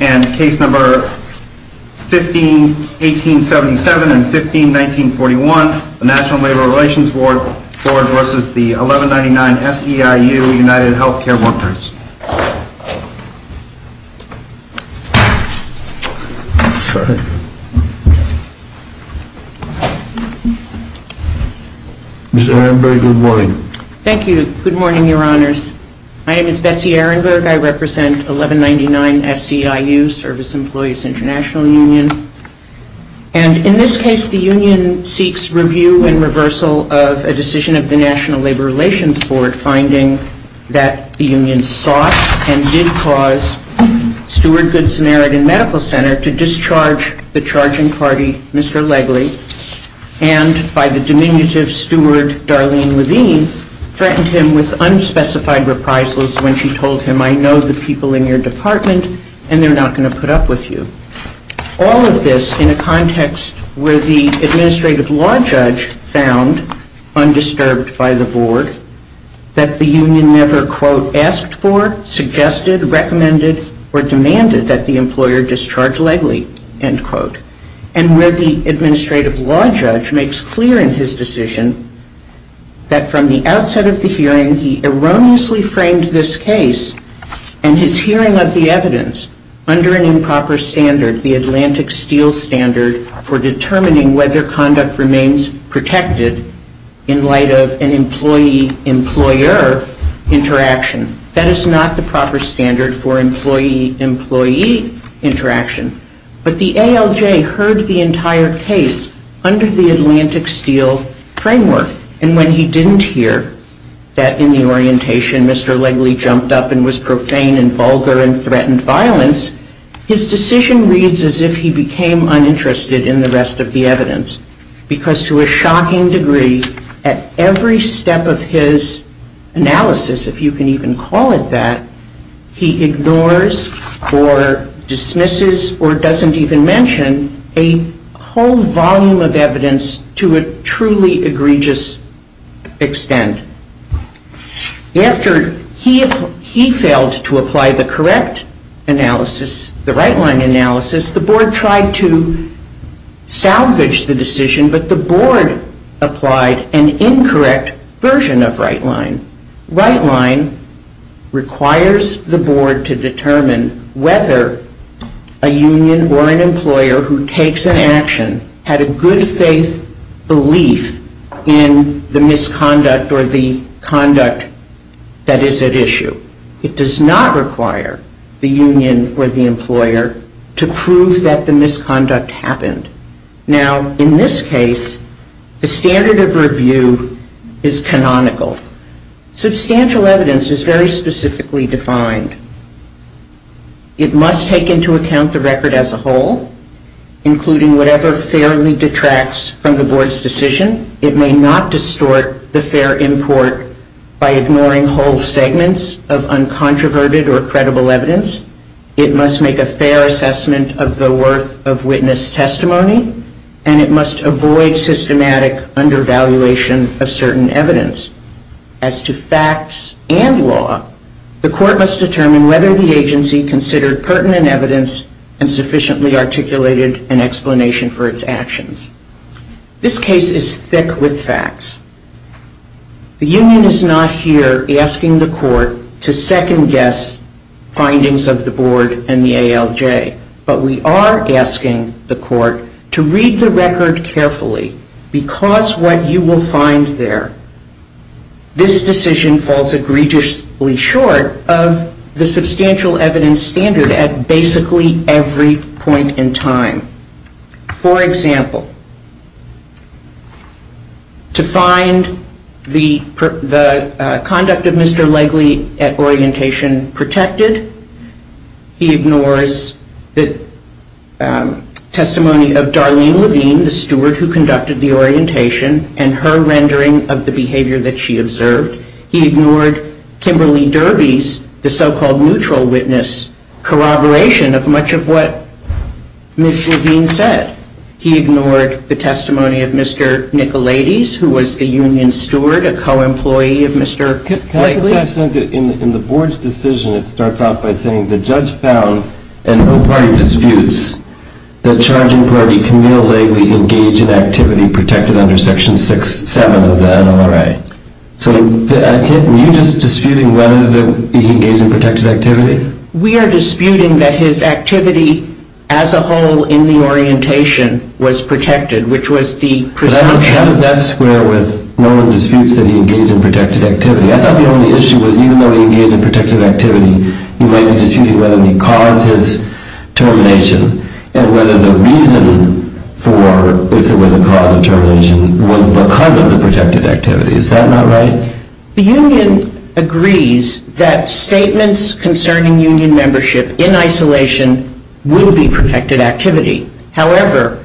and Case No. 15-1877 and 15-1941, the National Labor Relations Board v. the 1199-SEIU United Health Care Workers. Thank you. Good morning, Your Honors. My name is Betsy Ehrenberg. I represent 1199-SEIU, Service Employees International Union. And in this case, the union seeks review and reversal of a decision of the National Labor Relations Board finding that the union sought and did cause Steward Good Samaritan Medical Center to discharge the charging party, Mr. Legley, and by the diminutive steward, Darlene Levine, threatened him with unspecified reprisals when she told him, I know the people in your department and they're not going to put up with you. All of this in a context where the administrative law judge found, undisturbed by the board, that the union never, quote, asked for, suggested, recommended, or demanded that the employer discharge Legley, end quote. And where the administrative law judge makes clear in his decision that from the outset of the hearing, and he erroneously framed this case and his hearing of the evidence under an improper standard, the Atlantic Steel Standard for determining whether conduct remains protected in light of an employee-employer interaction. That is not the proper standard for employee-employee interaction. But the ALJ heard the entire case under the Atlantic Steel Framework. And when he didn't hear that in the orientation Mr. Legley jumped up and was profane and vulgar and threatened violence, his decision reads as if he became uninterested in the rest of the evidence. Because to a shocking degree, at every step of his analysis, if you can even call it that, he ignores or dismisses or doesn't even mention a whole volume of evidence to a truly egregious extent. After he failed to apply the correct analysis, the right-line analysis, the board tried to salvage the decision, but the board applied an incorrect version of right-line. Right-line requires the board to determine whether a union or an employer who takes an action had a good faith belief in the misconduct or the conduct that is at issue. It does not require the union or the employer to prove that the misconduct happened. Now, in this case, the standard of review is canonical. Substantial evidence is very specifically defined. It must take into account the record as a whole, including whatever fairly detracts from the board's decision. It may not distort the fair import by ignoring whole segments of uncontroverted or credible evidence. It must make a fair assessment of the worth of witness testimony, and it must avoid systematic undervaluation of certain evidence. As to facts and law, the court must determine whether the agency considered pertinent evidence and sufficiently articulated an explanation for its actions. This case is thick with facts. The union is not here asking the court to second-guess findings of the board and the ALJ, but we are asking the court to read the record carefully because what you will find there, this decision falls egregiously short of the substantial evidence standard at basically every point in time. For example, to find the conduct of Mr. Legley at orientation protected, he ignores the testimony of Darlene Levine, the steward who conducted the orientation, and her rendering of the behavior that she observed. He ignored Kimberly Derby's, the so-called neutral witness, corroboration of much of what Ms. Levine said. He ignored the testimony of Mr. Nicolades, who was the union steward, a co-employee of Mr. Legley. In the board's decision, it starts off by saying the judge found in her party disputes that charging party Camille Legley engaged in activity protected under Section 6-7 of the NLRA. So are you just disputing whether he engaged in protected activity? We are disputing that his activity as a whole in the orientation was protected, which was the presumption. How does that square with no one disputes that he engaged in protected activity? I thought the only issue was even though he engaged in protected activity, he might be disputing whether he caused his termination and whether the reason for if there was a cause of termination was because of the protected activity. Is that not right? The union agrees that statements concerning union membership in isolation will be protected activity. However,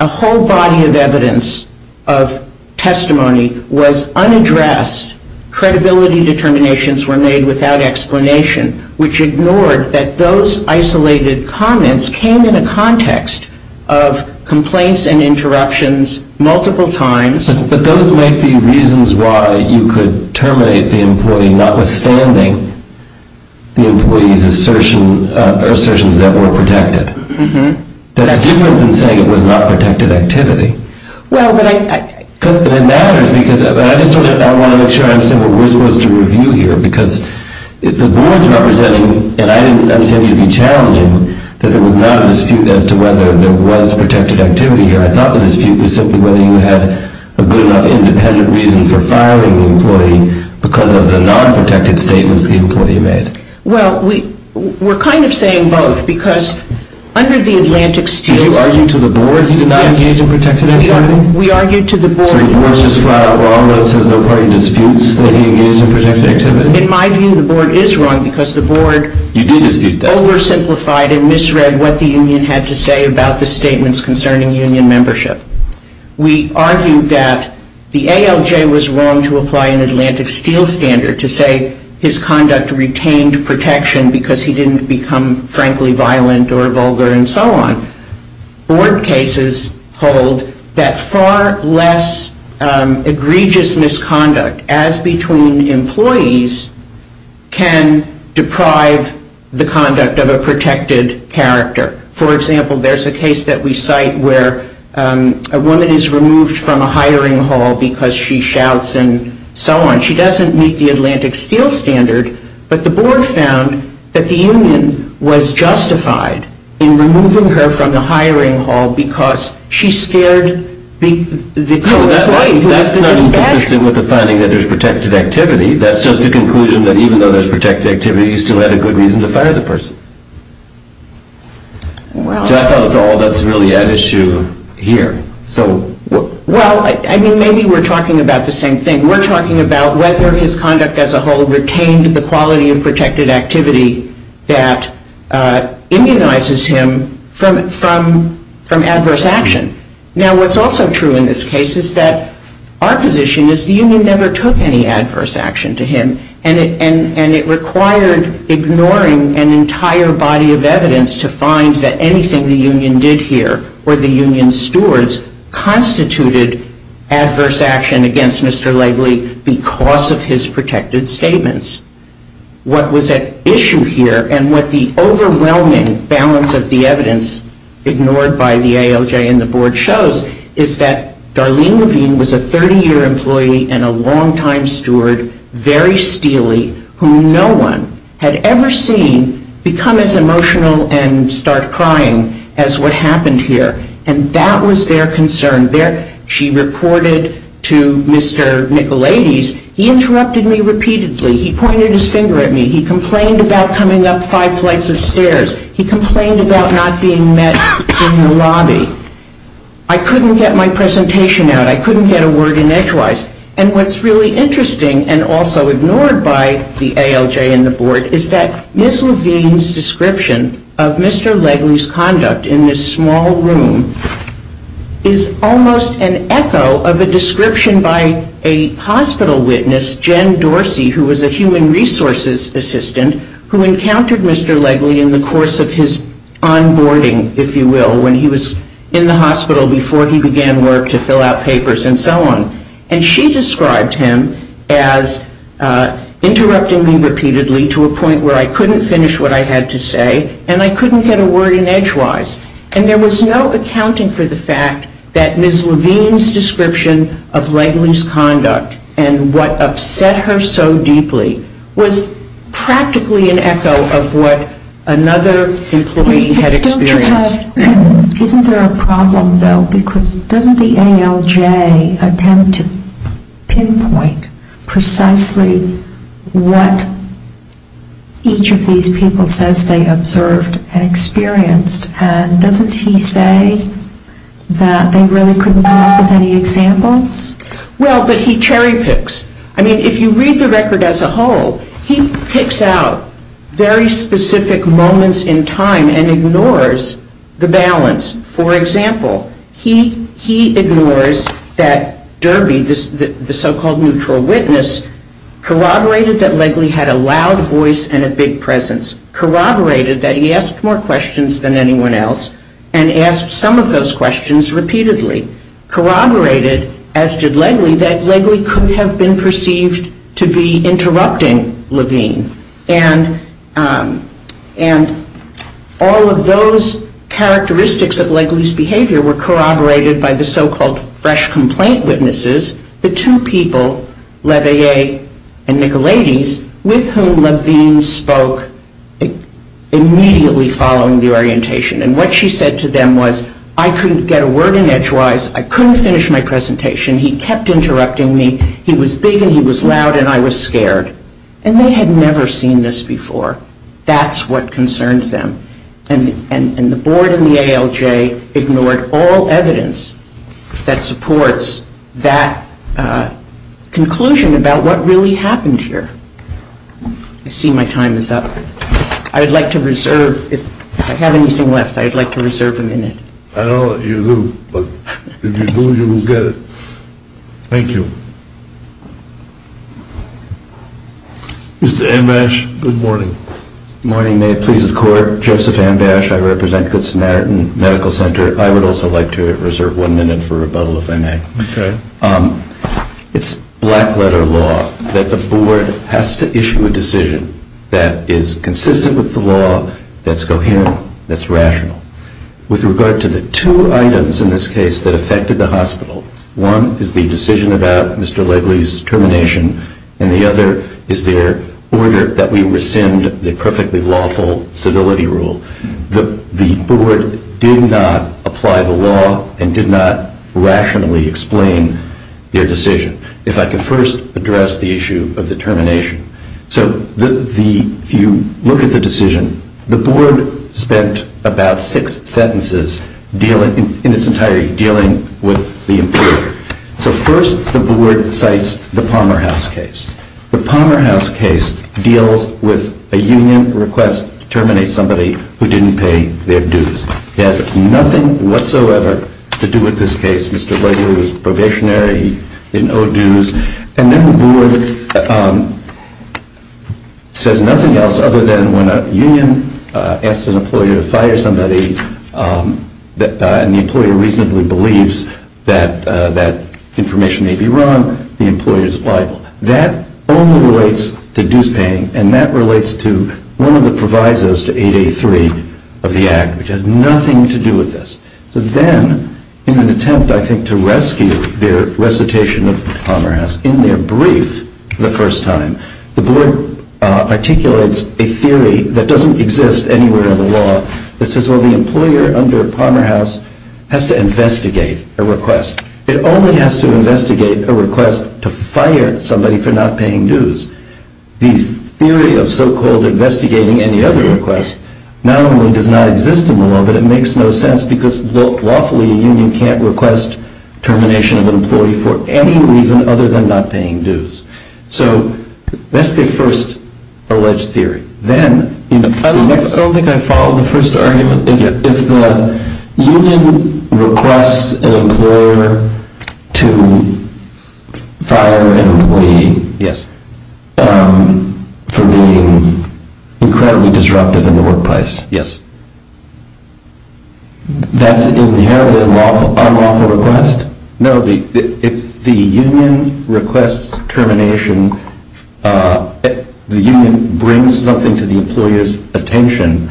a whole body of evidence of testimony was unaddressed. Credibility determinations were made without explanation, which ignored that those isolated comments came in a context of complaints and interruptions multiple times. But those might be reasons why you could terminate the employee, notwithstanding the employee's assertions that were protected. That's different than saying it was not protected activity. Well, but I... But it matters because, and I just want to make sure I'm simple, we're supposed to review here because the board's representing, and I'm saying it would be challenging that there was not a dispute as to whether there was protected activity here. I thought the dispute was simply whether you had a good enough independent reason for firing the employee because of the non-protected statements the employee made. Well, we're kind of saying both because under the Atlantic States... Did you argue to the board he did not engage in protected activity? We argued to the board... So the board's just flat out wrong when it says no party disputes that he engaged in protected activity? In my view, the board is wrong because the board... You did dispute that. The board oversimplified and misread what the union had to say about the statements concerning union membership. We argued that the ALJ was wrong to apply an Atlantic Steel standard to say his conduct retained protection because he didn't become, frankly, violent or vulgar and so on. Board cases hold that far less egregious misconduct, as between employees can deprive the conduct of a protected character. For example, there's a case that we cite where a woman is removed from a hiring hall because she shouts and so on. She doesn't meet the Atlantic Steel standard, but the board found that the union was justified in removing her from the hiring hall because she scared the employee. No, that's not inconsistent with the finding that there's protected activity. That's just a conclusion that even though there's protected activity, you still had a good reason to fire the person. So I thought that's all that's really at issue here. Well, I mean, maybe we're talking about the same thing. We're talking about whether his conduct as a whole retained the quality of protected activity that immunizes him from adverse action. Now, what's also true in this case is that our position is the union never took any adverse action to him, and it required ignoring an entire body of evidence to find that anything the union did here or the union's stewards constituted adverse action against Mr. Legley because of his protected statements. What was at issue here and what the overwhelming balance of the evidence ignored by the ALJ and the board shows is that Darlene Levine was a 30-year employee and a long-time steward, very steely, whom no one had ever seen become as emotional and start crying as what happened here. And that was their concern. She reported to Mr. Nicolades, he interrupted me repeatedly. He pointed his finger at me. He complained about coming up five flights of stairs. He complained about not being met in the lobby. I couldn't get my presentation out. I couldn't get a word in edgewise. And what's really interesting and also ignored by the ALJ and the board is that Ms. Levine's description of Mr. Legley's conduct in this small room is almost an echo of a description by a hospital witness, Jen Dorsey, who was a human resources assistant, who encountered Mr. Legley in the course of his onboarding, if you will, when he was in the hospital before he began work to fill out papers and so on. And she described him as interrupting me repeatedly to a point where I couldn't finish what I had to say and I couldn't get a word in edgewise. And there was no accounting for the fact that Ms. Levine's description of Legley's conduct and what upset her so deeply was practically an echo of what another employee had experienced. Isn't there a problem, though, because doesn't the ALJ attempt to pinpoint precisely what each of these people says they observed and experienced, and doesn't he say that they really couldn't come up with any examples? Well, but he cherry picks. I mean, if you read the record as a whole, he picks out very specific moments in time and ignores the balance. For example, he ignores that Derby, the so-called neutral witness, corroborated that Legley had a loud voice and a big presence, corroborated that he asked more questions than anyone else and asked some of those questions repeatedly, corroborated, as did Legley, that Legley could have been perceived to be interrupting Levine. And all of those characteristics of Legley's behavior were corroborated by the so-called fresh complaint witnesses, the two people, Leveille and Nicolades, with whom Levine spoke immediately following the orientation. And what she said to them was, I couldn't get a word in edgewise, I couldn't finish my presentation, he kept interrupting me, he was big and he was loud and I was scared. And they had never seen this before. That's what concerned them. And the board and the ALJ ignored all evidence that supports that conclusion about what really happened here. I see my time is up. I would like to reserve, if I have anything left, I would like to reserve a minute. I don't know that you do, but if you do, you will get it. Thank you. Mr. Amash, good morning. Good morning. May it please the Court. Joseph Amash, I represent Good Samaritan Medical Center. I would also like to reserve one minute for rebuttal, if I may. Okay. It's black-letter law that the board has to issue a decision that is consistent with the law, that's coherent, that's rational. With regard to the two items in this case that affected the hospital, one is the decision about Mr. Legley's termination, and the other is their order that we rescind the perfectly lawful civility rule. The board did not apply the law and did not rationally explain their decision. If I could first address the issue of the termination. So if you look at the decision, the board spent about six sentences in its entirety dealing with the employer. So first the board cites the Palmer House case. The Palmer House case deals with a union request to terminate somebody who didn't pay their dues. It has nothing whatsoever to do with this case. Mr. Legley was probationary. He didn't owe dues. And then the board says nothing else other than when a union asks an employer to fire somebody and the employer reasonably believes that that information may be wrong, the employer is liable. That only relates to dues paying, and that relates to one of the provisos to 8A3 of the Act, which has nothing to do with this. So then in an attempt, I think, to rescue their recitation of the Palmer House, in their brief for the first time, the board articulates a theory that doesn't exist anywhere in the law that says, well, the employer under Palmer House has to investigate a request. It only has to investigate a request to fire somebody for not paying dues. The theory of so-called investigating any other request not only does not exist in the law, but it makes no sense because lawfully a union can't request termination of an employee for any reason other than not paying dues. So that's their first alleged theory. I don't think I followed the first argument. If the union requests an employer to fire an employee for being incredibly disruptive in the workplace, that's an inherited unlawful request? No. If the union requests termination, the union brings something to the employer's attention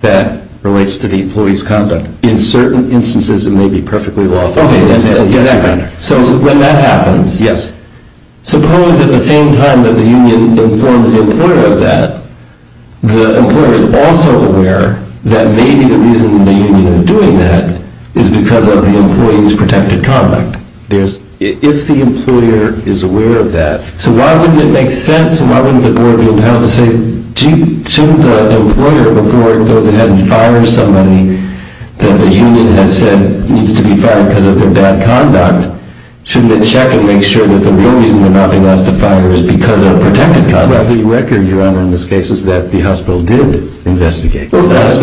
that relates to the employee's conduct. In certain instances, it may be perfectly lawful. So when that happens, suppose at the same time that the union informs the employer of that, the employer is also aware that maybe the reason the union is doing that is because of the employee's protected conduct. If the employer is aware of that, so why wouldn't it make sense? Why wouldn't the board be empowered to say, shouldn't the employer, before it goes ahead and fires somebody that the union has said needs to be fired because of their bad conduct, shouldn't it check and make sure that the real reason they're not being asked to fire is because of protected conduct? Well, the record, Your Honor, in this case is that the hospital did investigate. Well, that's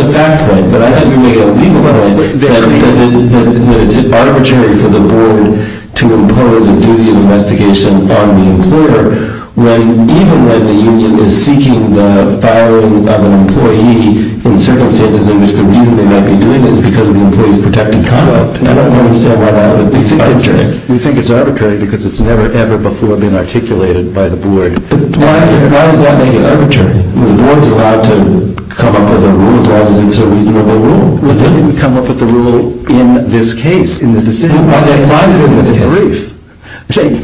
a fact point. But I thought you made a legal point that it's arbitrary for the board to impose a duty of investigation on the employer even when the union is seeking the firing of an employee in circumstances in which the reason they might be doing it is because of the employee's protected conduct. I don't know what you're saying about arbitrary. We think it's arbitrary because it's never, ever before been articulated by the board. But why does that make it arbitrary? The board's allowed to come up with a rule as long as it's a reasonable rule. Well, they didn't come up with a rule in this case, in the decision. Well, they applied it in the brief.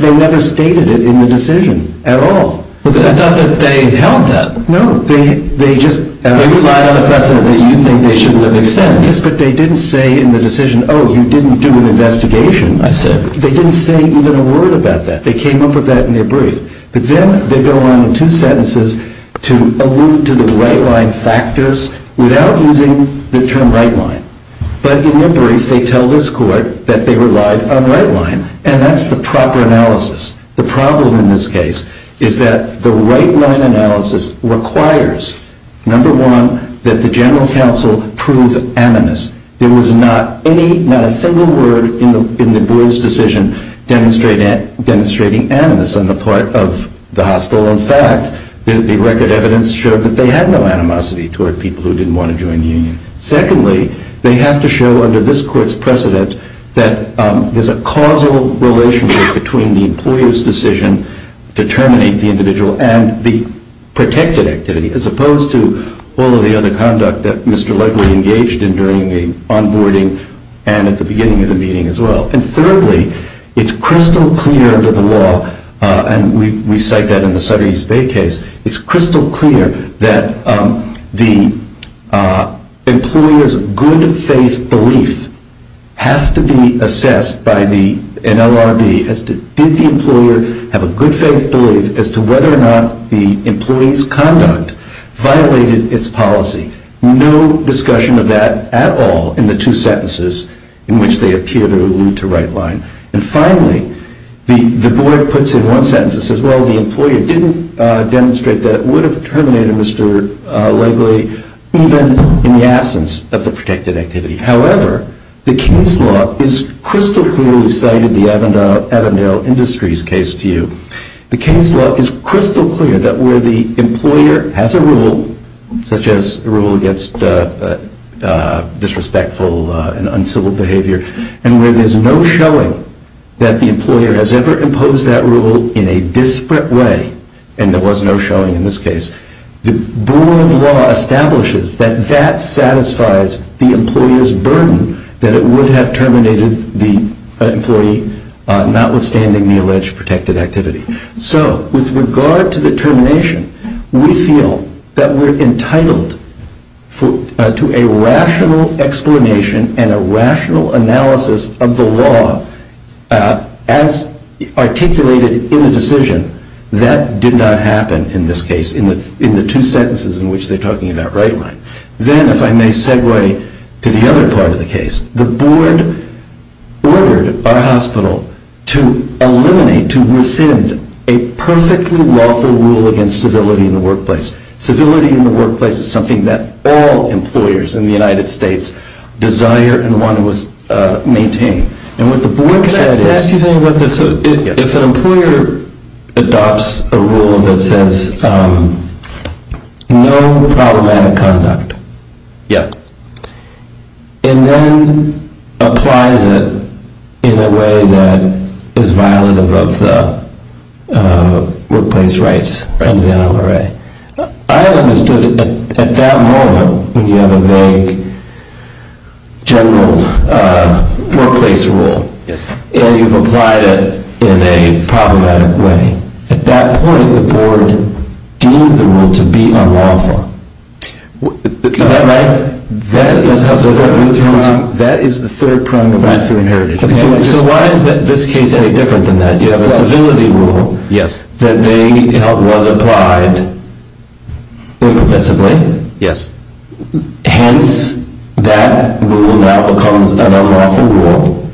They never stated it in the decision at all. I thought that they held that. No. They relied on the precedent that you think they shouldn't have extended. Yes, but they didn't say in the decision, oh, you didn't do an investigation, I said. They didn't say even a word about that. They came up with that in their brief. But then they go on in two sentences to allude to the right-line factors without using the term right-line. But in their brief, they tell this court that they relied on right-line, and that's the proper analysis. The problem in this case is that the right-line analysis requires, number one, that the general counsel prove animus. There was not a single word in the board's decision demonstrating animus on the part of the hospital. In fact, the record evidence showed that they had no animosity toward people who didn't want to join the union. Secondly, they have to show under this court's precedent that there's a causal relationship between the employer's decision to terminate the individual and the protected activity, as opposed to all of the other conduct that Mr. Legley engaged in during the onboarding and at the beginning of the meeting as well. And thirdly, it's crystal clear under the law, and we cite that in the Sutter East Bay case, it's crystal clear that the employer's good-faith belief has to be assessed by an LRB as to did the employer have a good-faith belief as to whether or not the employee's conduct violated its policy. No discussion of that at all in the two sentences in which they appear to allude to right-line. And finally, the board puts in one sentence that says, well, the employer didn't demonstrate that it would have terminated Mr. Legley even in the absence of the protected activity. However, the King's Law is crystal clearly cited in the Avondale Industries case to you. The King's Law is crystal clear that where the employer has a rule, such as a rule against disrespectful and uncivil behavior, and where there's no showing that the employer has ever imposed that rule in a disparate way, and there was no showing in this case, the board law establishes that that satisfies the employer's burden that it would have terminated the employee notwithstanding the alleged protected activity. So with regard to the termination, we feel that we're entitled to a rational explanation and a rational analysis of the law as articulated in the decision that did not happen in this case in the two sentences in which they're talking about right-line. Then, if I may segue to the other part of the case, the board ordered our hospital to eliminate, to rescind, a perfectly lawful rule against civility in the workplace. Civility in the workplace is something that all employers in the United States desire and want to maintain. Can I ask you something about this? If an employer adopts a rule that says no problematic conduct, and then applies it in a way that is violative of the workplace rights in the NLRA, I understood it at that moment when you have a vague general workplace rule, and you've applied it in a problematic way. At that point, the board deems the rule to be unlawful. Is that right? That is the third prong of my theory of heritage. So why is this case any different than that? You have a civility rule that was applied impermissibly. Yes. Hence, that rule now becomes an unlawful rule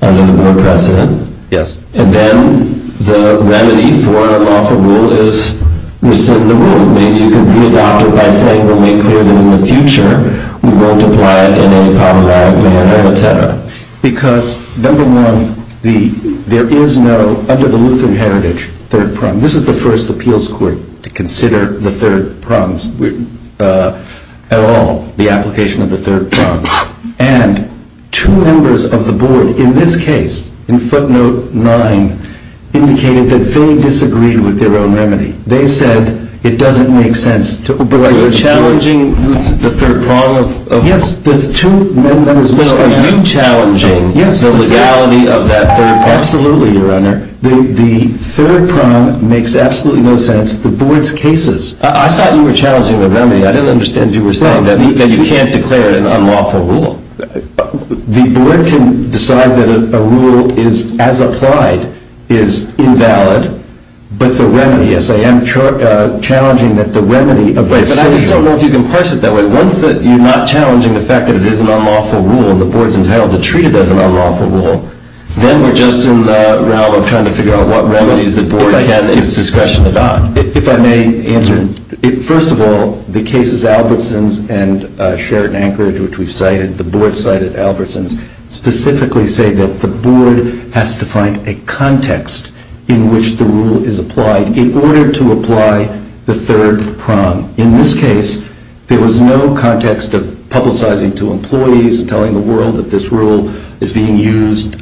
under the board precedent. Yes. And then the remedy for an unlawful rule is rescind the rule. Maybe you can readopt it by saying we'll make clear that in the future we won't apply it in any problematic manner, et cetera. Because, number one, there is no, under the Lutheran heritage, third prong. This is the first appeals court to consider the third prongs at all, the application of the third prong. And two members of the board in this case, in footnote nine, indicated that they disagreed with their own remedy. They said it doesn't make sense. But you're challenging the third prong? Yes. So are you challenging the legality of that third prong? Absolutely, Your Honor. The third prong makes absolutely no sense. The board's cases. I thought you were challenging the remedy. I didn't understand you were saying that you can't declare it an unlawful rule. The board can decide that a rule is, as applied, is invalid. But the remedy, yes, I am challenging that the remedy of rescind. I just don't know if you can parse it that way. Once you're not challenging the fact that it is an unlawful rule and the board's entitled to treat it as an unlawful rule, then we're just in the realm of trying to figure out what remedies the board can, at its discretion, adopt. If I may answer, first of all, the cases Albertsons and Sheraton Anchorage, which we've cited, the board cited Albertsons, specifically say that the board has to find a context in which the rule is applied in order to apply the third prong. In this case, there was no context of publicizing to employees and telling the world that this rule is being used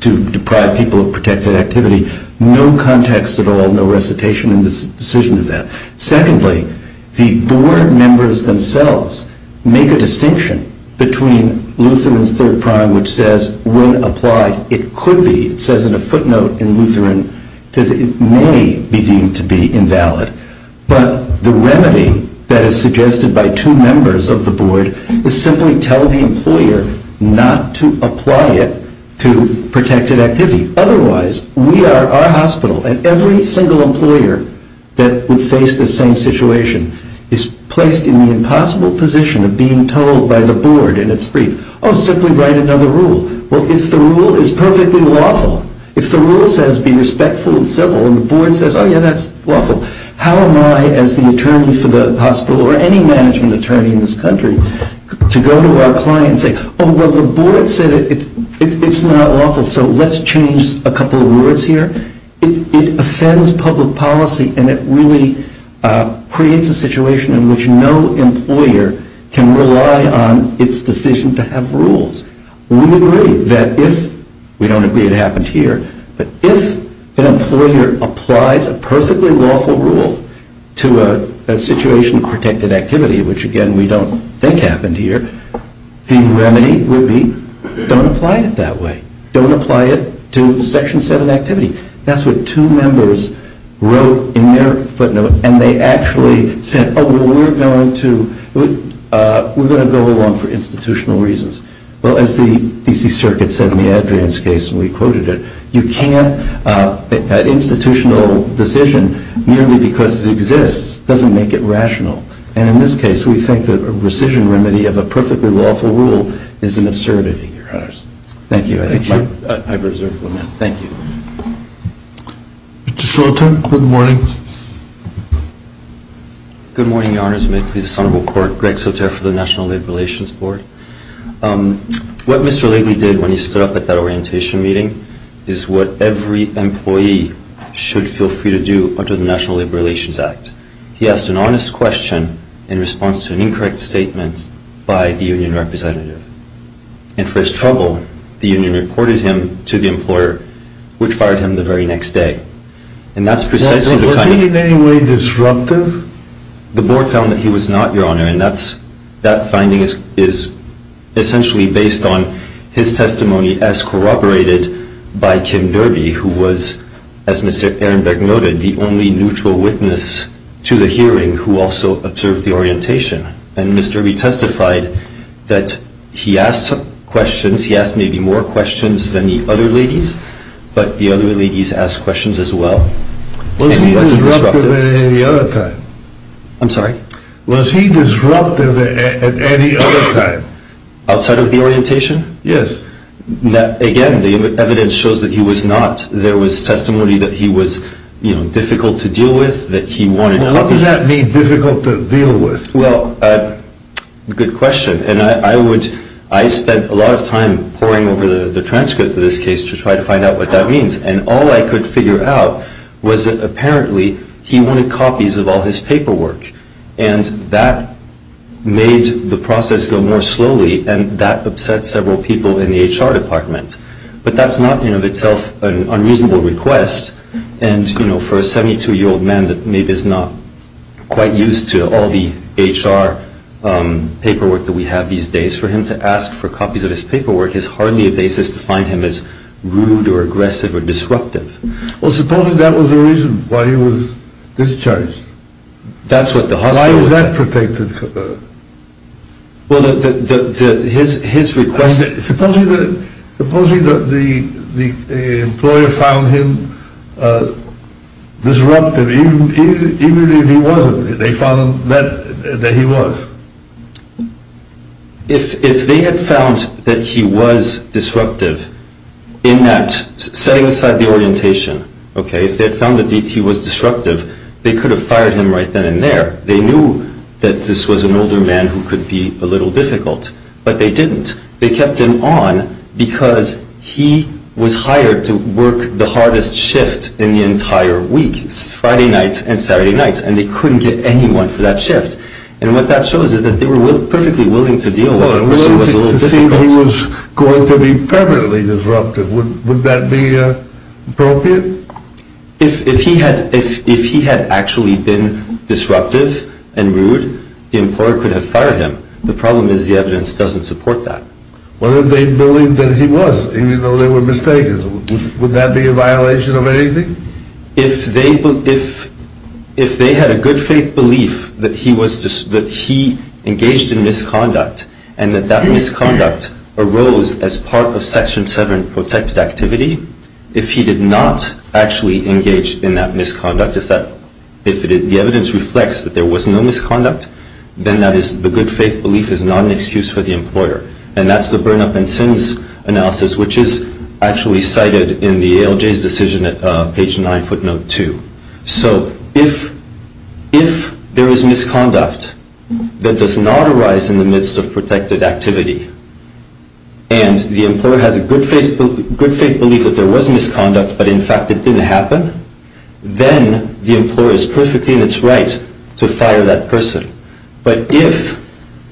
to deprive people of protected activity. No context at all, no recitation in this decision of that. Secondly, the board members themselves make a distinction between Lutheran's third prong, which says when applied, it could be, it says in a footnote in Lutheran, it may be deemed to be invalid. But the remedy that is suggested by two members of the board is simply tell the employer not to apply it to protected activity. Otherwise, we are our hospital and every single employer that would face the same situation is placed in the impossible position of being told by the board in its brief, oh, simply write another rule. Well, if the rule is perfectly lawful, if the rule says be respectful and civil and the board says, oh, yeah, that's lawful, how am I as the attorney for the hospital or any management attorney in this country to go to our client and say, oh, well, the board said it's not lawful, so let's change a couple of words here. It offends public policy and it really creates a situation in which no employer can rely on its decision to have rules. We agree that if, we don't agree it happened here, but if an employer applies a perfectly lawful rule to a situation of protected activity, which, again, we don't think happened here, the remedy would be don't apply it that way. Don't apply it to Section 7 activity. That's what two members wrote in their footnote and they actually said, oh, well, we're going to go along for institutional reasons. Well, as the D.C. Circuit said in the Adrian's case and we quoted it, you can't, that institutional decision merely because it exists doesn't make it rational. And in this case, we think that a rescission remedy of a perfectly lawful rule is an absurdity, Your Honors. Thank you. Mr. Soter, good morning. Good morning, Your Honors. May it please the Honorable Court, Greg Soter for the National Labor Relations Board. What Mr. Lately did when he stood up at that orientation meeting is what every employee should feel free to do under the National Labor Relations Act. He asked an honest question in response to an incorrect statement by the union representative. And for his trouble, the union reported him to the employer, which fired him the very next day. And that's precisely the kind of- Was he in any way disruptive? The board found that he was not, Your Honor, and that finding is essentially based on his testimony as corroborated by Kim Derby, who was, as Mr. Ehrenberg noted, the only neutral witness to the hearing who also observed the orientation. And Mr. Derby testified that he asked some questions. He asked maybe more questions than the other ladies, but the other ladies asked questions as well. And he wasn't disruptive. Was he disruptive at any other time? I'm sorry? Was he disruptive at any other time? Outside of the orientation? Yes. Again, the evidence shows that he was not. How does that make it difficult to deal with? Well, good question. And I spent a lot of time poring over the transcript of this case to try to find out what that means. And all I could figure out was that apparently he wanted copies of all his paperwork. And that made the process go more slowly, and that upset several people in the HR department. But that's not, in and of itself, an unreasonable request. And, you know, for a 72-year-old man that maybe is not quite used to all the HR paperwork that we have these days, for him to ask for copies of his paperwork is hardly a basis to find him as rude or aggressive or disruptive. Well, supposing that was the reason why he was discharged? That's what the hospital would say. Why is that protected? Well, his request… Supposing that the employer found him disruptive, even if he wasn't, they found that he was? If they had found that he was disruptive in that setting aside the orientation, okay, if they had found that he was disruptive, they could have fired him right then and there. They knew that this was an older man who could be a little difficult, but they didn't. They kept him on because he was hired to work the hardest shift in the entire week, Friday nights and Saturday nights. And they couldn't get anyone for that shift. And what that shows is that they were perfectly willing to deal with the person who was a little difficult. Well, if the person was going to be permanently disruptive, would that be appropriate? If he had actually been disruptive and rude, the employer could have fired him. The problem is the evidence doesn't support that. What if they believed that he was, even though they were mistaken? Would that be a violation of anything? If they had a good faith belief that he engaged in misconduct and that that misconduct arose as part of Section 7 protected activity, if he did not actually engage in that misconduct, if the evidence reflects that there was no misconduct, then the good faith belief is not an excuse for the employer. And that's the burn-up-and-sins analysis, which is actually cited in the ALJ's decision at page 9, footnote 2. So if there is misconduct that does not arise in the midst of protected activity and the employer has a good faith belief that there was misconduct, but in fact it didn't happen, then the employer is perfectly in its right to fire that person. But if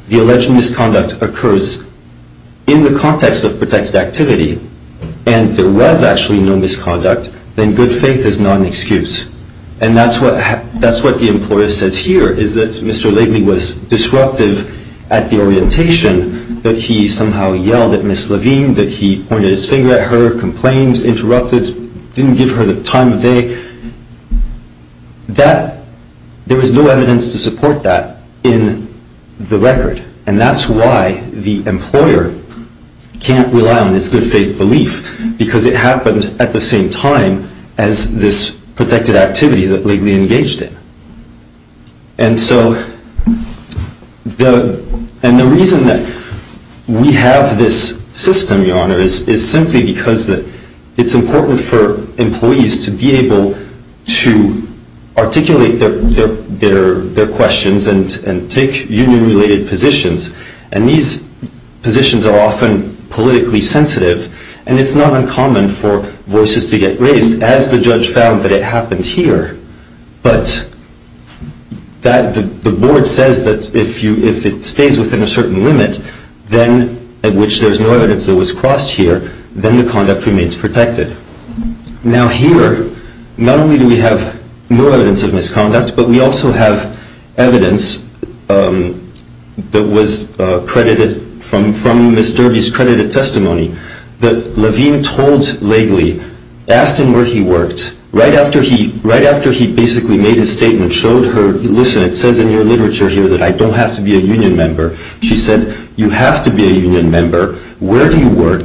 the alleged misconduct occurs in the context of protected activity and there was actually no misconduct, then good faith is not an excuse. And that's what the employer says here, is that Mr. Laidman was disruptive at the orientation, that he somehow yelled at Ms. Levine, that he pointed his finger at her, complained, interrupted, didn't give her the time of day, that there was no evidence to support that in the record. And that's why the employer can't rely on this good faith belief, because it happened at the same time as this protected activity that Laidman engaged in. And the reason that we have this system, Your Honor, is simply because it's important for employees to be able to articulate their questions and take union-related positions. And these positions are often politically sensitive, and it's not uncommon for voices to get raised as the judge found that it happened here. But the board says that if it stays within a certain limit, at which there's no evidence that was crossed here, then the conduct remains protected. Now here, not only do we have no evidence of misconduct, but we also have evidence that was credited from Ms. Derby's credited testimony, that Levine told Laidley, asked him where he worked, right after he basically made his statement, showed her, listen, it says in your literature here that I don't have to be a union member. She said, you have to be a union member. Where do you work?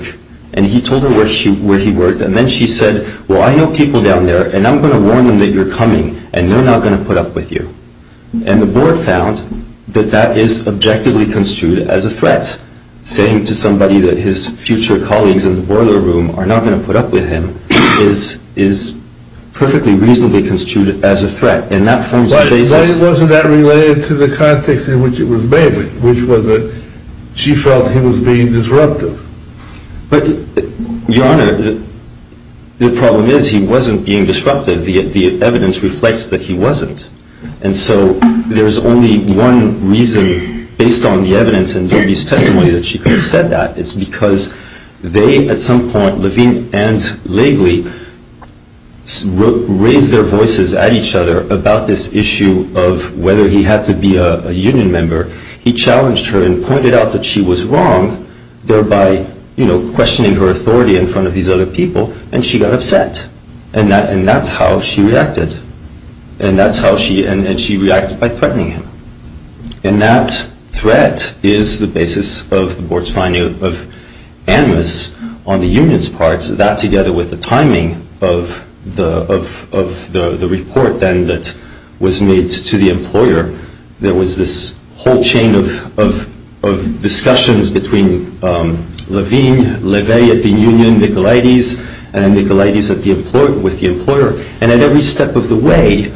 And he told her where he worked. And then she said, well, I know people down there, and I'm going to warn them that you're coming, and they're not going to put up with you. And the board found that that is objectively construed as a threat. Saying to somebody that his future colleagues in the boiler room are not going to put up with him is perfectly reasonably construed as a threat. But wasn't that related to the context in which it was made, which was that she felt he was being disruptive? But, Your Honor, the problem is he wasn't being disruptive. The evidence reflects that he wasn't. And so there's only one reason, based on the evidence and Derby's testimony, that she could have said that. It's because they, at some point, Levine and Lavely, raised their voices at each other about this issue of whether he had to be a union member. He challenged her and pointed out that she was wrong, thereby, you know, questioning her authority in front of these other people, and she got upset. And that's how she reacted. And she reacted by threatening him. And that threat is the basis of the board's finding of animus on the union's part, that together with the timing of the report then that was made to the employer, there was this whole chain of discussions between Levine, Lavely at the union, Nicolaides, and then Nicolaides with the employer. And at every step of the way,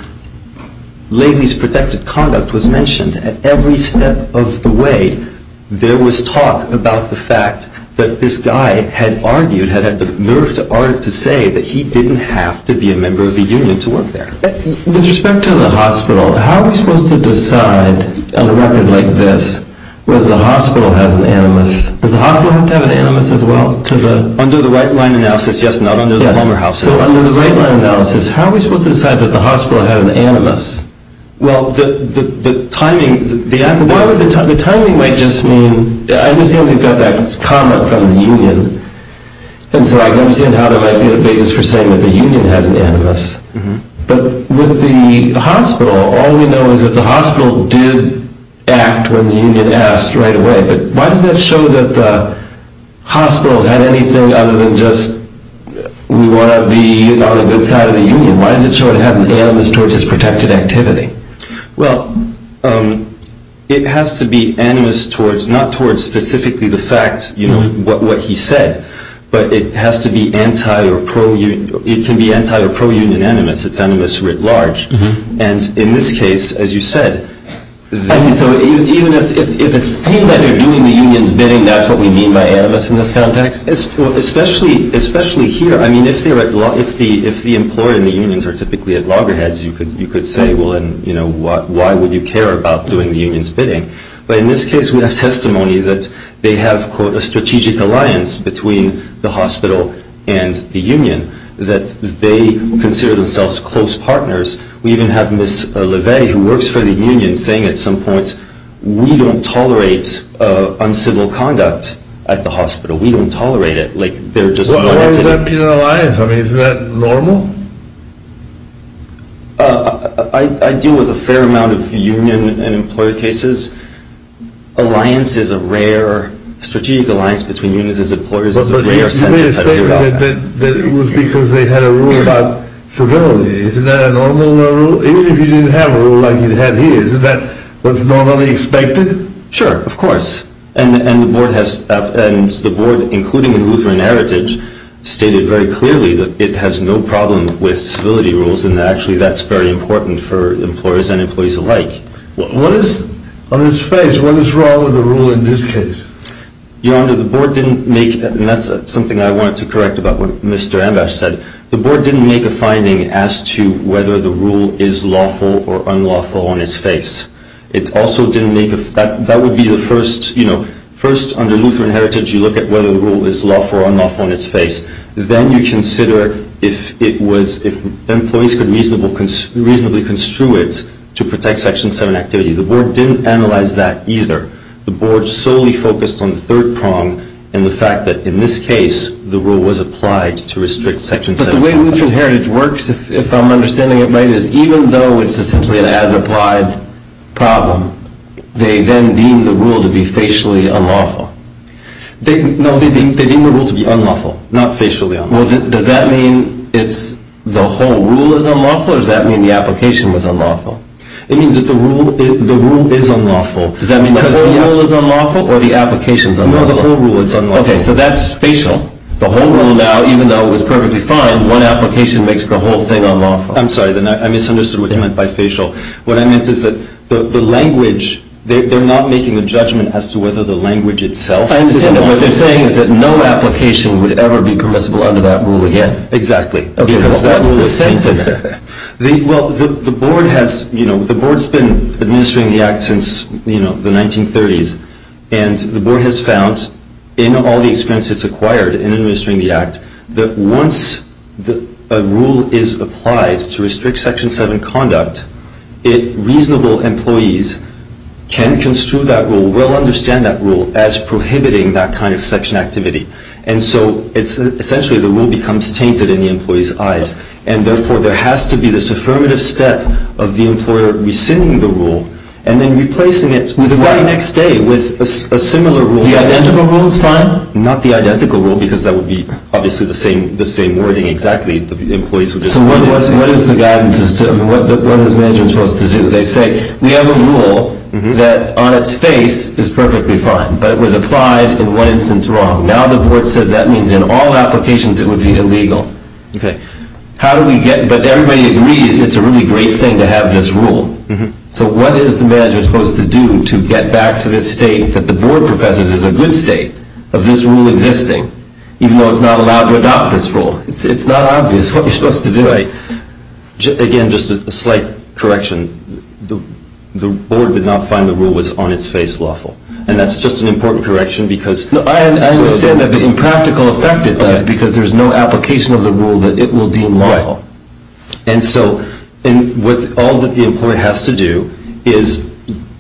Lavely's protected conduct was mentioned. At every step of the way, there was talk about the fact that this guy had argued, had had the nerve to argue, to say that he didn't have to be a member of the union to work there. With respect to the hospital, how are we supposed to decide, on a record like this, whether the hospital has an animus? Does the hospital have to have an animus as well? Under the right-line analysis, yes and no. So under the right-line analysis, how are we supposed to decide that the hospital had an animus? Well, the timing might just mean... I understand we've got that comment from the union. And so I can understand how there might be a basis for saying that the union has an animus. But with the hospital, all we know is that the hospital did act when the union asked right away. But why does that show that the hospital had anything other than just, we want to be on the good side of the union? Why does it show it had an animus towards its protected activity? Well, it has to be animus towards, not towards specifically the fact, you know, what he said. But it has to be anti- or pro-union. It can be anti- or pro-union animus. It's animus writ large. And in this case, as you said... I see. So even if it seems that they're doing the union's bidding, that's what we mean by animus in this context? Especially here. I mean, if the employer and the unions are typically at loggerheads, you could say, well, and, you know, why would you care about doing the union's bidding? But in this case, we have testimony that they have, quote, a strategic alliance between the hospital and the union, that they consider themselves close partners. We even have Ms. LeVay, who works for the union, saying at some point, we don't tolerate uncivil conduct at the hospital. We don't tolerate it. Why would that be an alliance? I mean, isn't that normal? I deal with a fair amount of union and employer cases. Alliance is a rare... Strategic alliance between unions and employers is a rare sentence. You made the statement that it was because they had a rule about civility. Isn't that a normal rule? Even if you didn't have a rule like you have here, isn't that what's normally expected? Sure, of course. And the board, including in Lutheran Heritage, stated very clearly that it has no problem with civility rules, and actually that's very important for employers and employees alike. On its face, what is wrong with the rule in this case? Your Honor, the board didn't make... And that's something I wanted to correct about what Mr. Ambash said. The board didn't make a finding as to whether the rule is lawful or unlawful on its face. It also didn't make a... That would be the first, you know... First, under Lutheran Heritage, you look at whether the rule is lawful or unlawful on its face. Then you consider if it was... If employees could reasonably construe it to protect Section 7 activity. The board didn't analyze that either. The board solely focused on the third prong, and the fact that, in this case, the rule was applied to restrict Section 7... But the way Lutheran Heritage works, if I'm understanding it right, is even though it's essentially an as-applied problem, they then deem the rule to be facially unlawful. No, they deem the rule to be unlawful, not facially unlawful. Well, does that mean the whole rule is unlawful, or does that mean the application was unlawful? It means that the rule is unlawful. Does that mean the whole rule is unlawful, or the application is unlawful? No, the whole rule is unlawful. Okay, so that's facial. The whole rule now, even though it was perfectly fine, one application makes the whole thing unlawful. I'm sorry, I misunderstood what you meant by facial. What I meant is that the language... They're not making a judgment as to whether the language itself is unlawful. What they're saying is that no application would ever be permissible under that rule again. Exactly. Because that's the same thing. Well, the Board has been administering the Act since the 1930s, and the Board has found, in all the experience it's acquired in administering the Act, that once a rule is applied to restrict Section 7 conduct, reasonable employees can construe that rule, will understand that rule, as prohibiting that kind of Section activity. And so, essentially, the rule becomes tainted in the employees' eyes, and therefore there has to be this affirmative step of the employer rescinding the rule and then replacing it with the right next day with a similar rule. The identical rule is fine? Not the identical rule, because that would be, obviously, the same wording. Exactly, the employees would just... So what is the guidance as to... I mean, what is management supposed to do? They say, we have a rule that, on its face, is perfectly fine, but it was applied in one instance wrong. Now the Board says that means in all applications it would be illegal. Okay. How do we get... But everybody agrees it's a really great thing to have this rule. So what is the management supposed to do to get back to this state that the Board professes is a good state of this rule existing, even though it's not allowed to adopt this rule? It's not obvious what you're supposed to do. Again, just a slight correction. The Board did not find the rule was, on its face, lawful. And that's just an important correction because... I understand that the impractical effect of it is because there's no application of the rule that it will deem lawful. And so all that the employer has to do is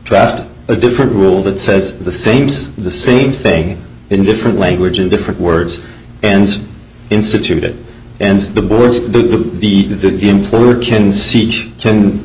draft a different rule that says the same thing in different language, in different words, and institute it. And the Board's... the employer can seek... can...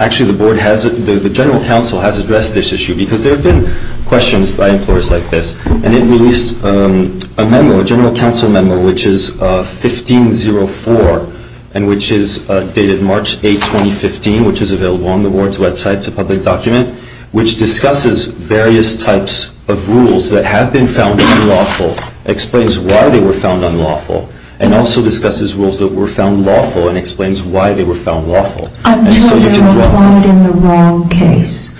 Actually, the Board has... the General Counsel has addressed this issue because there have been questions by employers like this. And it released a memo, a General Counsel memo, which is 1504 and which is dated March 8, 2015, which is available on the Board's website. It's a public document which discusses various types of rules that have been found unlawful, explains why they were found unlawful, and also discusses rules that were found lawful and explains why they were found lawful. Until they're applied in the wrong case.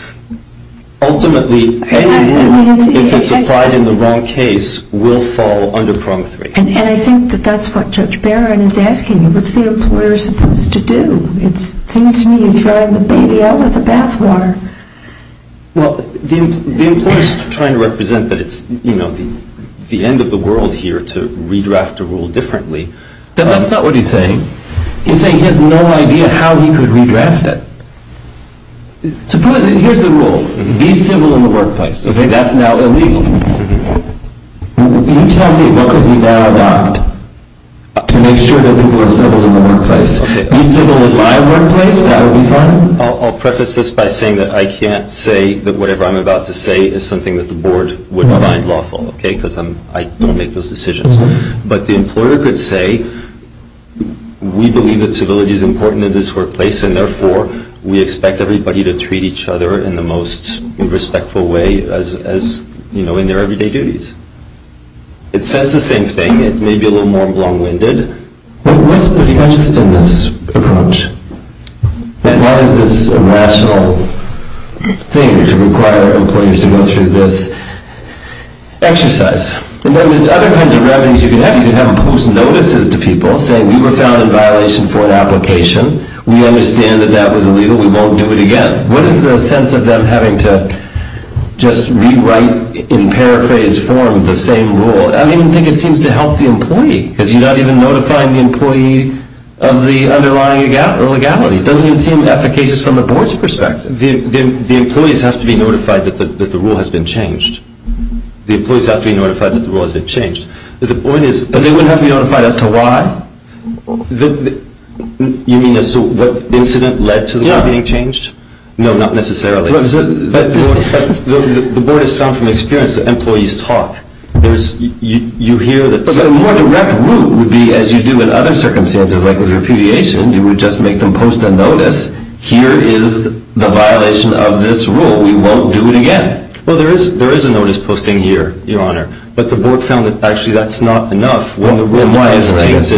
Ultimately, any rule, if it's applied in the wrong case, will fall under Prong 3. And I think that that's what Judge Barron is asking. What's the employer supposed to do? It seems to me he's throwing the baby out with the bathwater. Well, the employer's trying to represent that it's, you know, the end of the world here to redraft a rule differently. But that's not what he's saying. He's saying he has no idea how he could redraft it. Here's the rule. Be civil in the workplace. Okay, that's now illegal. You tell me, what could we now adopt to make sure that people are civil in the workplace? Be civil in my workplace? That would be fine? I'll preface this by saying that I can't say that whatever I'm about to say is something that the Board would find lawful, okay, because I don't make those decisions. But the employer could say, we believe that civility is important in this workplace and therefore we expect everybody to treat each other in the most respectful way as, you know, in their everyday duties. It says the same thing. It may be a little more long-winded. What's the sense in this approach? Why is this a rational thing to require employers to go through this exercise? And then there's other kinds of revenues you could have. You could have a post notices to people saying, we were found in violation for an application. We understand that that was illegal. We won't do it again. What is the sense of them having to just rewrite, in paraphrased form, the same rule? I don't even think it seems to help the employee because you're not even notifying the employee of the underlying legality. It doesn't even seem efficacious from the Board's perspective. The employees have to be notified that the rule has been changed. The employees have to be notified that the rule has been changed. But they wouldn't have to be notified as to why? You mean as to what incident led to the rule being changed? Yeah. No, not necessarily. But the Board has found from experience that employees talk. But the more direct route would be, as you do in other circumstances, like with repudiation, you would just make them post a notice. Here is the violation of this rule. We won't do it again. Well, there is a notice posting here, Your Honor. But the Board found that actually that's not enough. Why isn't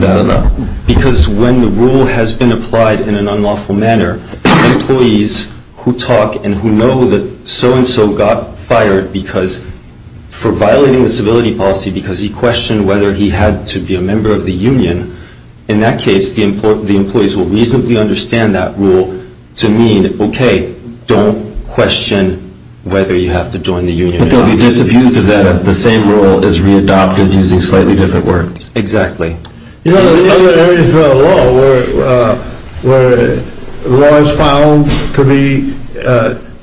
that enough? Because when the rule has been applied in an unlawful manner, employees who talk and who know that so-and-so got fired for violating the civility policy because he questioned whether he had to be a member of the union, in that case the employees will reasonably understand that rule to mean, okay, don't question whether you have to join the union or not. But they'll be disabused of that if the same rule is readopted using slightly different words. Exactly. You know, there are other areas of the law where the law is found to be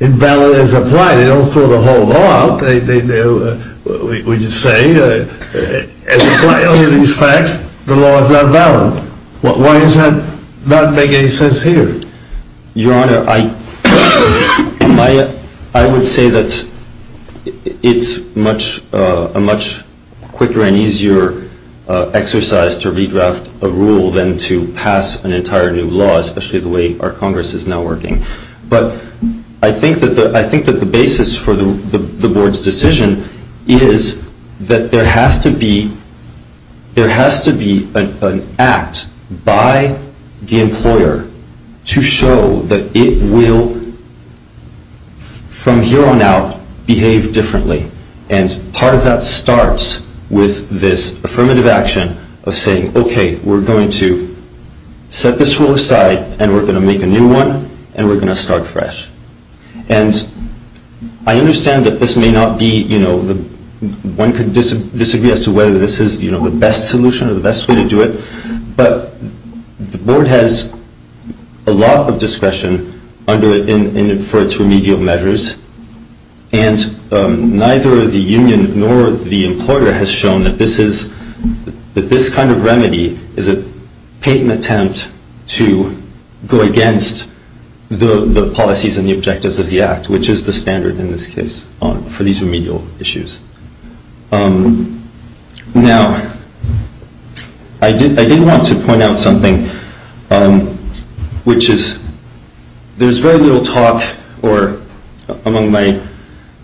invalid as applied. They don't throw the whole law out. We just say, as applied under these facts, the law is not valid. Why does that not make any sense here? Your Honor, I would say that it's a much quicker and easier exercise to redraft a rule than to pass an entire new law, especially the way our Congress is now working. But I think that the basis for the Board's decision is that there has to be an act by the employer to show that it will, from here on out, behave differently. And part of that starts with this affirmative action of saying, okay, we're going to set this rule aside and we're going to make a new one and we're going to start fresh. And I understand that this may not be, you know, one could disagree as to whether this is the best solution or the best way to do it, but the Board has a lot of discretion for its remedial measures, and neither the union nor the employer has shown that this kind of remedy is a patent attempt to go against the policies and the objectives of the Act, which is the standard in this case for these remedial issues. Now, I did want to point out something, which is there's very little talk, or among the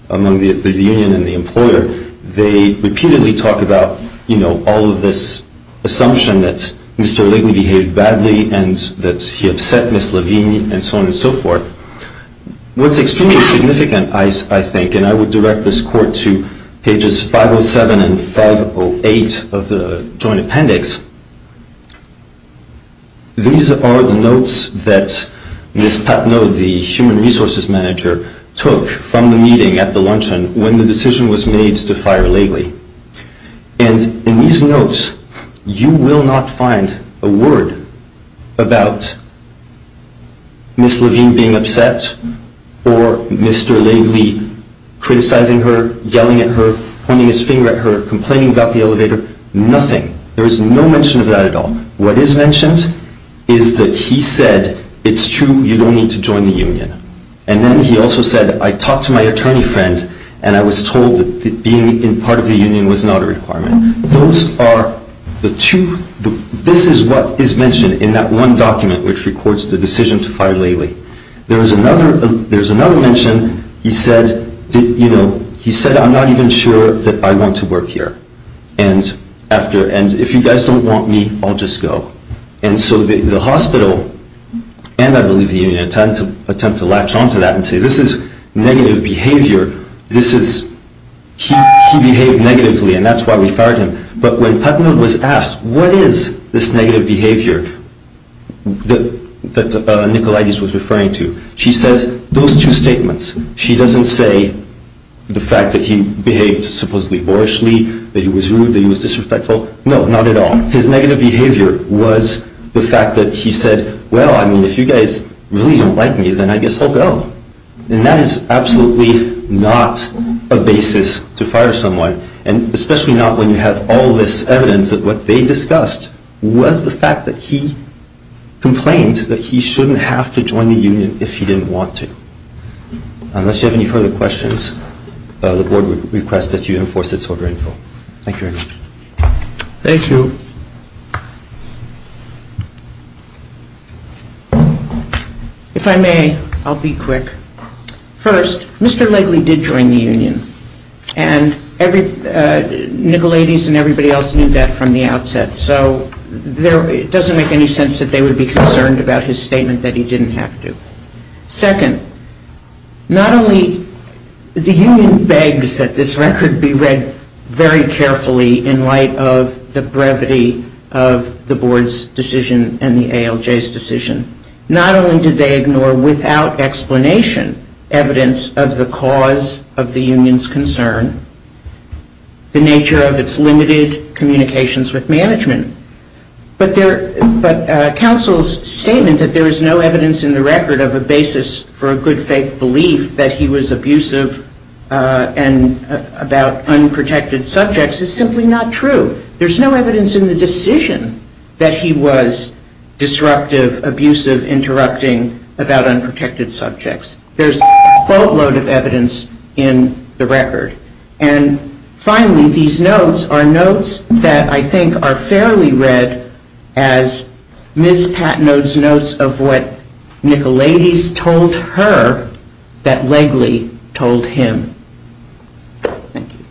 union and the employer, they repeatedly talk about, you know, all of this assumption that Mr. Legley behaved badly and that he upset Ms. Lavigne and so on and so forth. What's extremely significant, I think, and I would direct this court to pages 507 and 508 of the joint appendix, these are the notes that Ms. Patnoe, the human resources manager, took from the meeting at the luncheon when the decision was made to fire Legley. And in these notes, you will not find a word about Ms. Lavigne being upset or Mr. Legley criticizing her, yelling at her, pointing his finger at her, complaining about the elevator, nothing. There is no mention of that at all. What is mentioned is that he said, it's true, you don't need to join the union. And then he also said, I talked to my attorney friend, and I was told that being part of the union was not a requirement. Those are the two, this is what is mentioned in that one document, which records the decision to fire Legley. There's another mention, he said, you know, he said, I'm not even sure that I want to work here. And if you guys don't want me, I'll just go. And so the hospital, and I believe the union, attempt to latch on to that and say this is negative behavior, this is, he behaved negatively and that's why we fired him. But when Patnoe was asked, what is this negative behavior that Nicolaides was referring to, she says those two statements. She doesn't say the fact that he behaved supposedly boorishly, that he was rude, that he was disrespectful, no, not at all. His negative behavior was the fact that he said, well, I mean, if you guys really don't like me, then I guess I'll go. And that is absolutely not a basis to fire someone, and especially not when you have all this evidence that what they discussed was the fact that he complained that he shouldn't have to join the union if he didn't want to. Unless you have any further questions, the board would request that you enforce its order in full. Thank you very much. Thank you. If I may, I'll be quick. First, Mr. Legley did join the union, and Nicolaides and everybody else knew that from the outset, so it doesn't make any sense that they would be concerned about his statement that he didn't have to. Second, not only the union begs that this record be read very carefully in light of the brevity of the board's decision and the ALJ's decision. Not only did they ignore, without explanation, evidence of the cause of the union's concern, the nature of its limited communications with management, but counsel's statement that there is no evidence in the record of a basis for a good faith belief that he was abusive about unprotected subjects is simply not true. There's no evidence in the decision that he was disruptive, abusive, interrupting about unprotected subjects. There's a quote load of evidence in the record. And finally, these notes are notes that I think are fairly read as Ms. Patnode's notes of what Nicolaides told her that Legley told him. Thank you.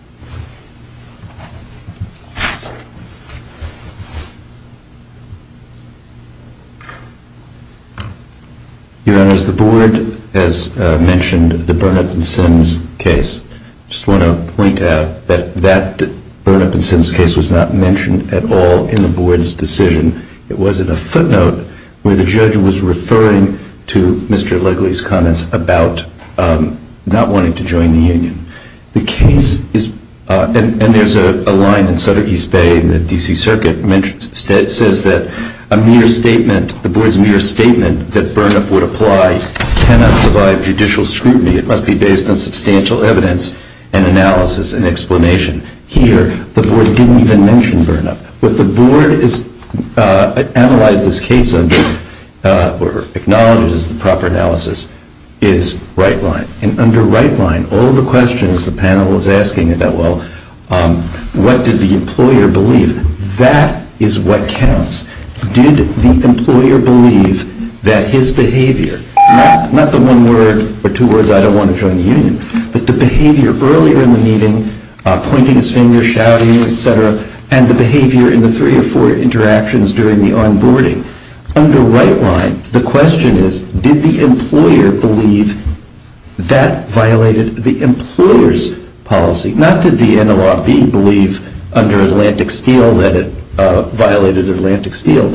Your Honors, the board has mentioned the Burnett and Sims case. I just want to point out that that Burnett and Sims case was not mentioned at all in the board's decision. It was in a footnote where the judge was referring to Mr. Legley's comments about not wanting to join the union. The case is, and there's a line in Southern East Bay in the D.C. Circuit, it says that a mere statement, the board's mere statement that Burnett would apply cannot survive judicial scrutiny. It must be based on substantial evidence and analysis and explanation. Here, the board didn't even mention Burnett. What the board has analyzed this case under or acknowledges as the proper analysis is right line. And under right line, all the questions the panel was asking about, well, what did the employer believe, that is what counts. Did the employer believe that his behavior, not the one word or two words, I don't want to join the union, but the behavior earlier in the meeting, pointing his finger, shouting, et cetera, and the behavior in the three or four interactions during the onboarding. Under right line, the question is, did the employer believe that violated the employer's policy? Not did the NLRB believe under Atlantic Steel that it violated Atlantic Steel.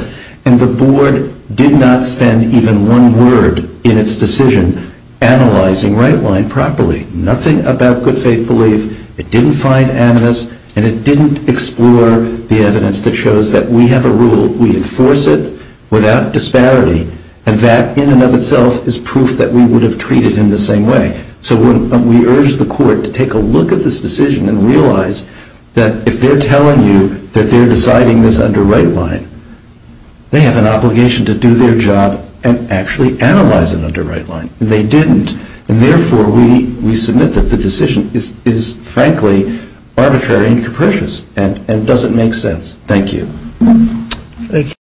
And the board did not spend even one word in its decision analyzing right line properly. Nothing about good faith belief. It didn't find aminus, and it didn't explore the evidence that shows that we have a rule. We enforce it without disparity, and that in and of itself is proof that we would have treated him the same way. So we urge the court to take a look at this decision and realize that if they're telling you that they're deciding this under right line, they have an obligation to do their job and actually analyze it under right line. They didn't. And therefore, we submit that the decision is frankly arbitrary and capricious and doesn't make sense. Thank you. Thank you.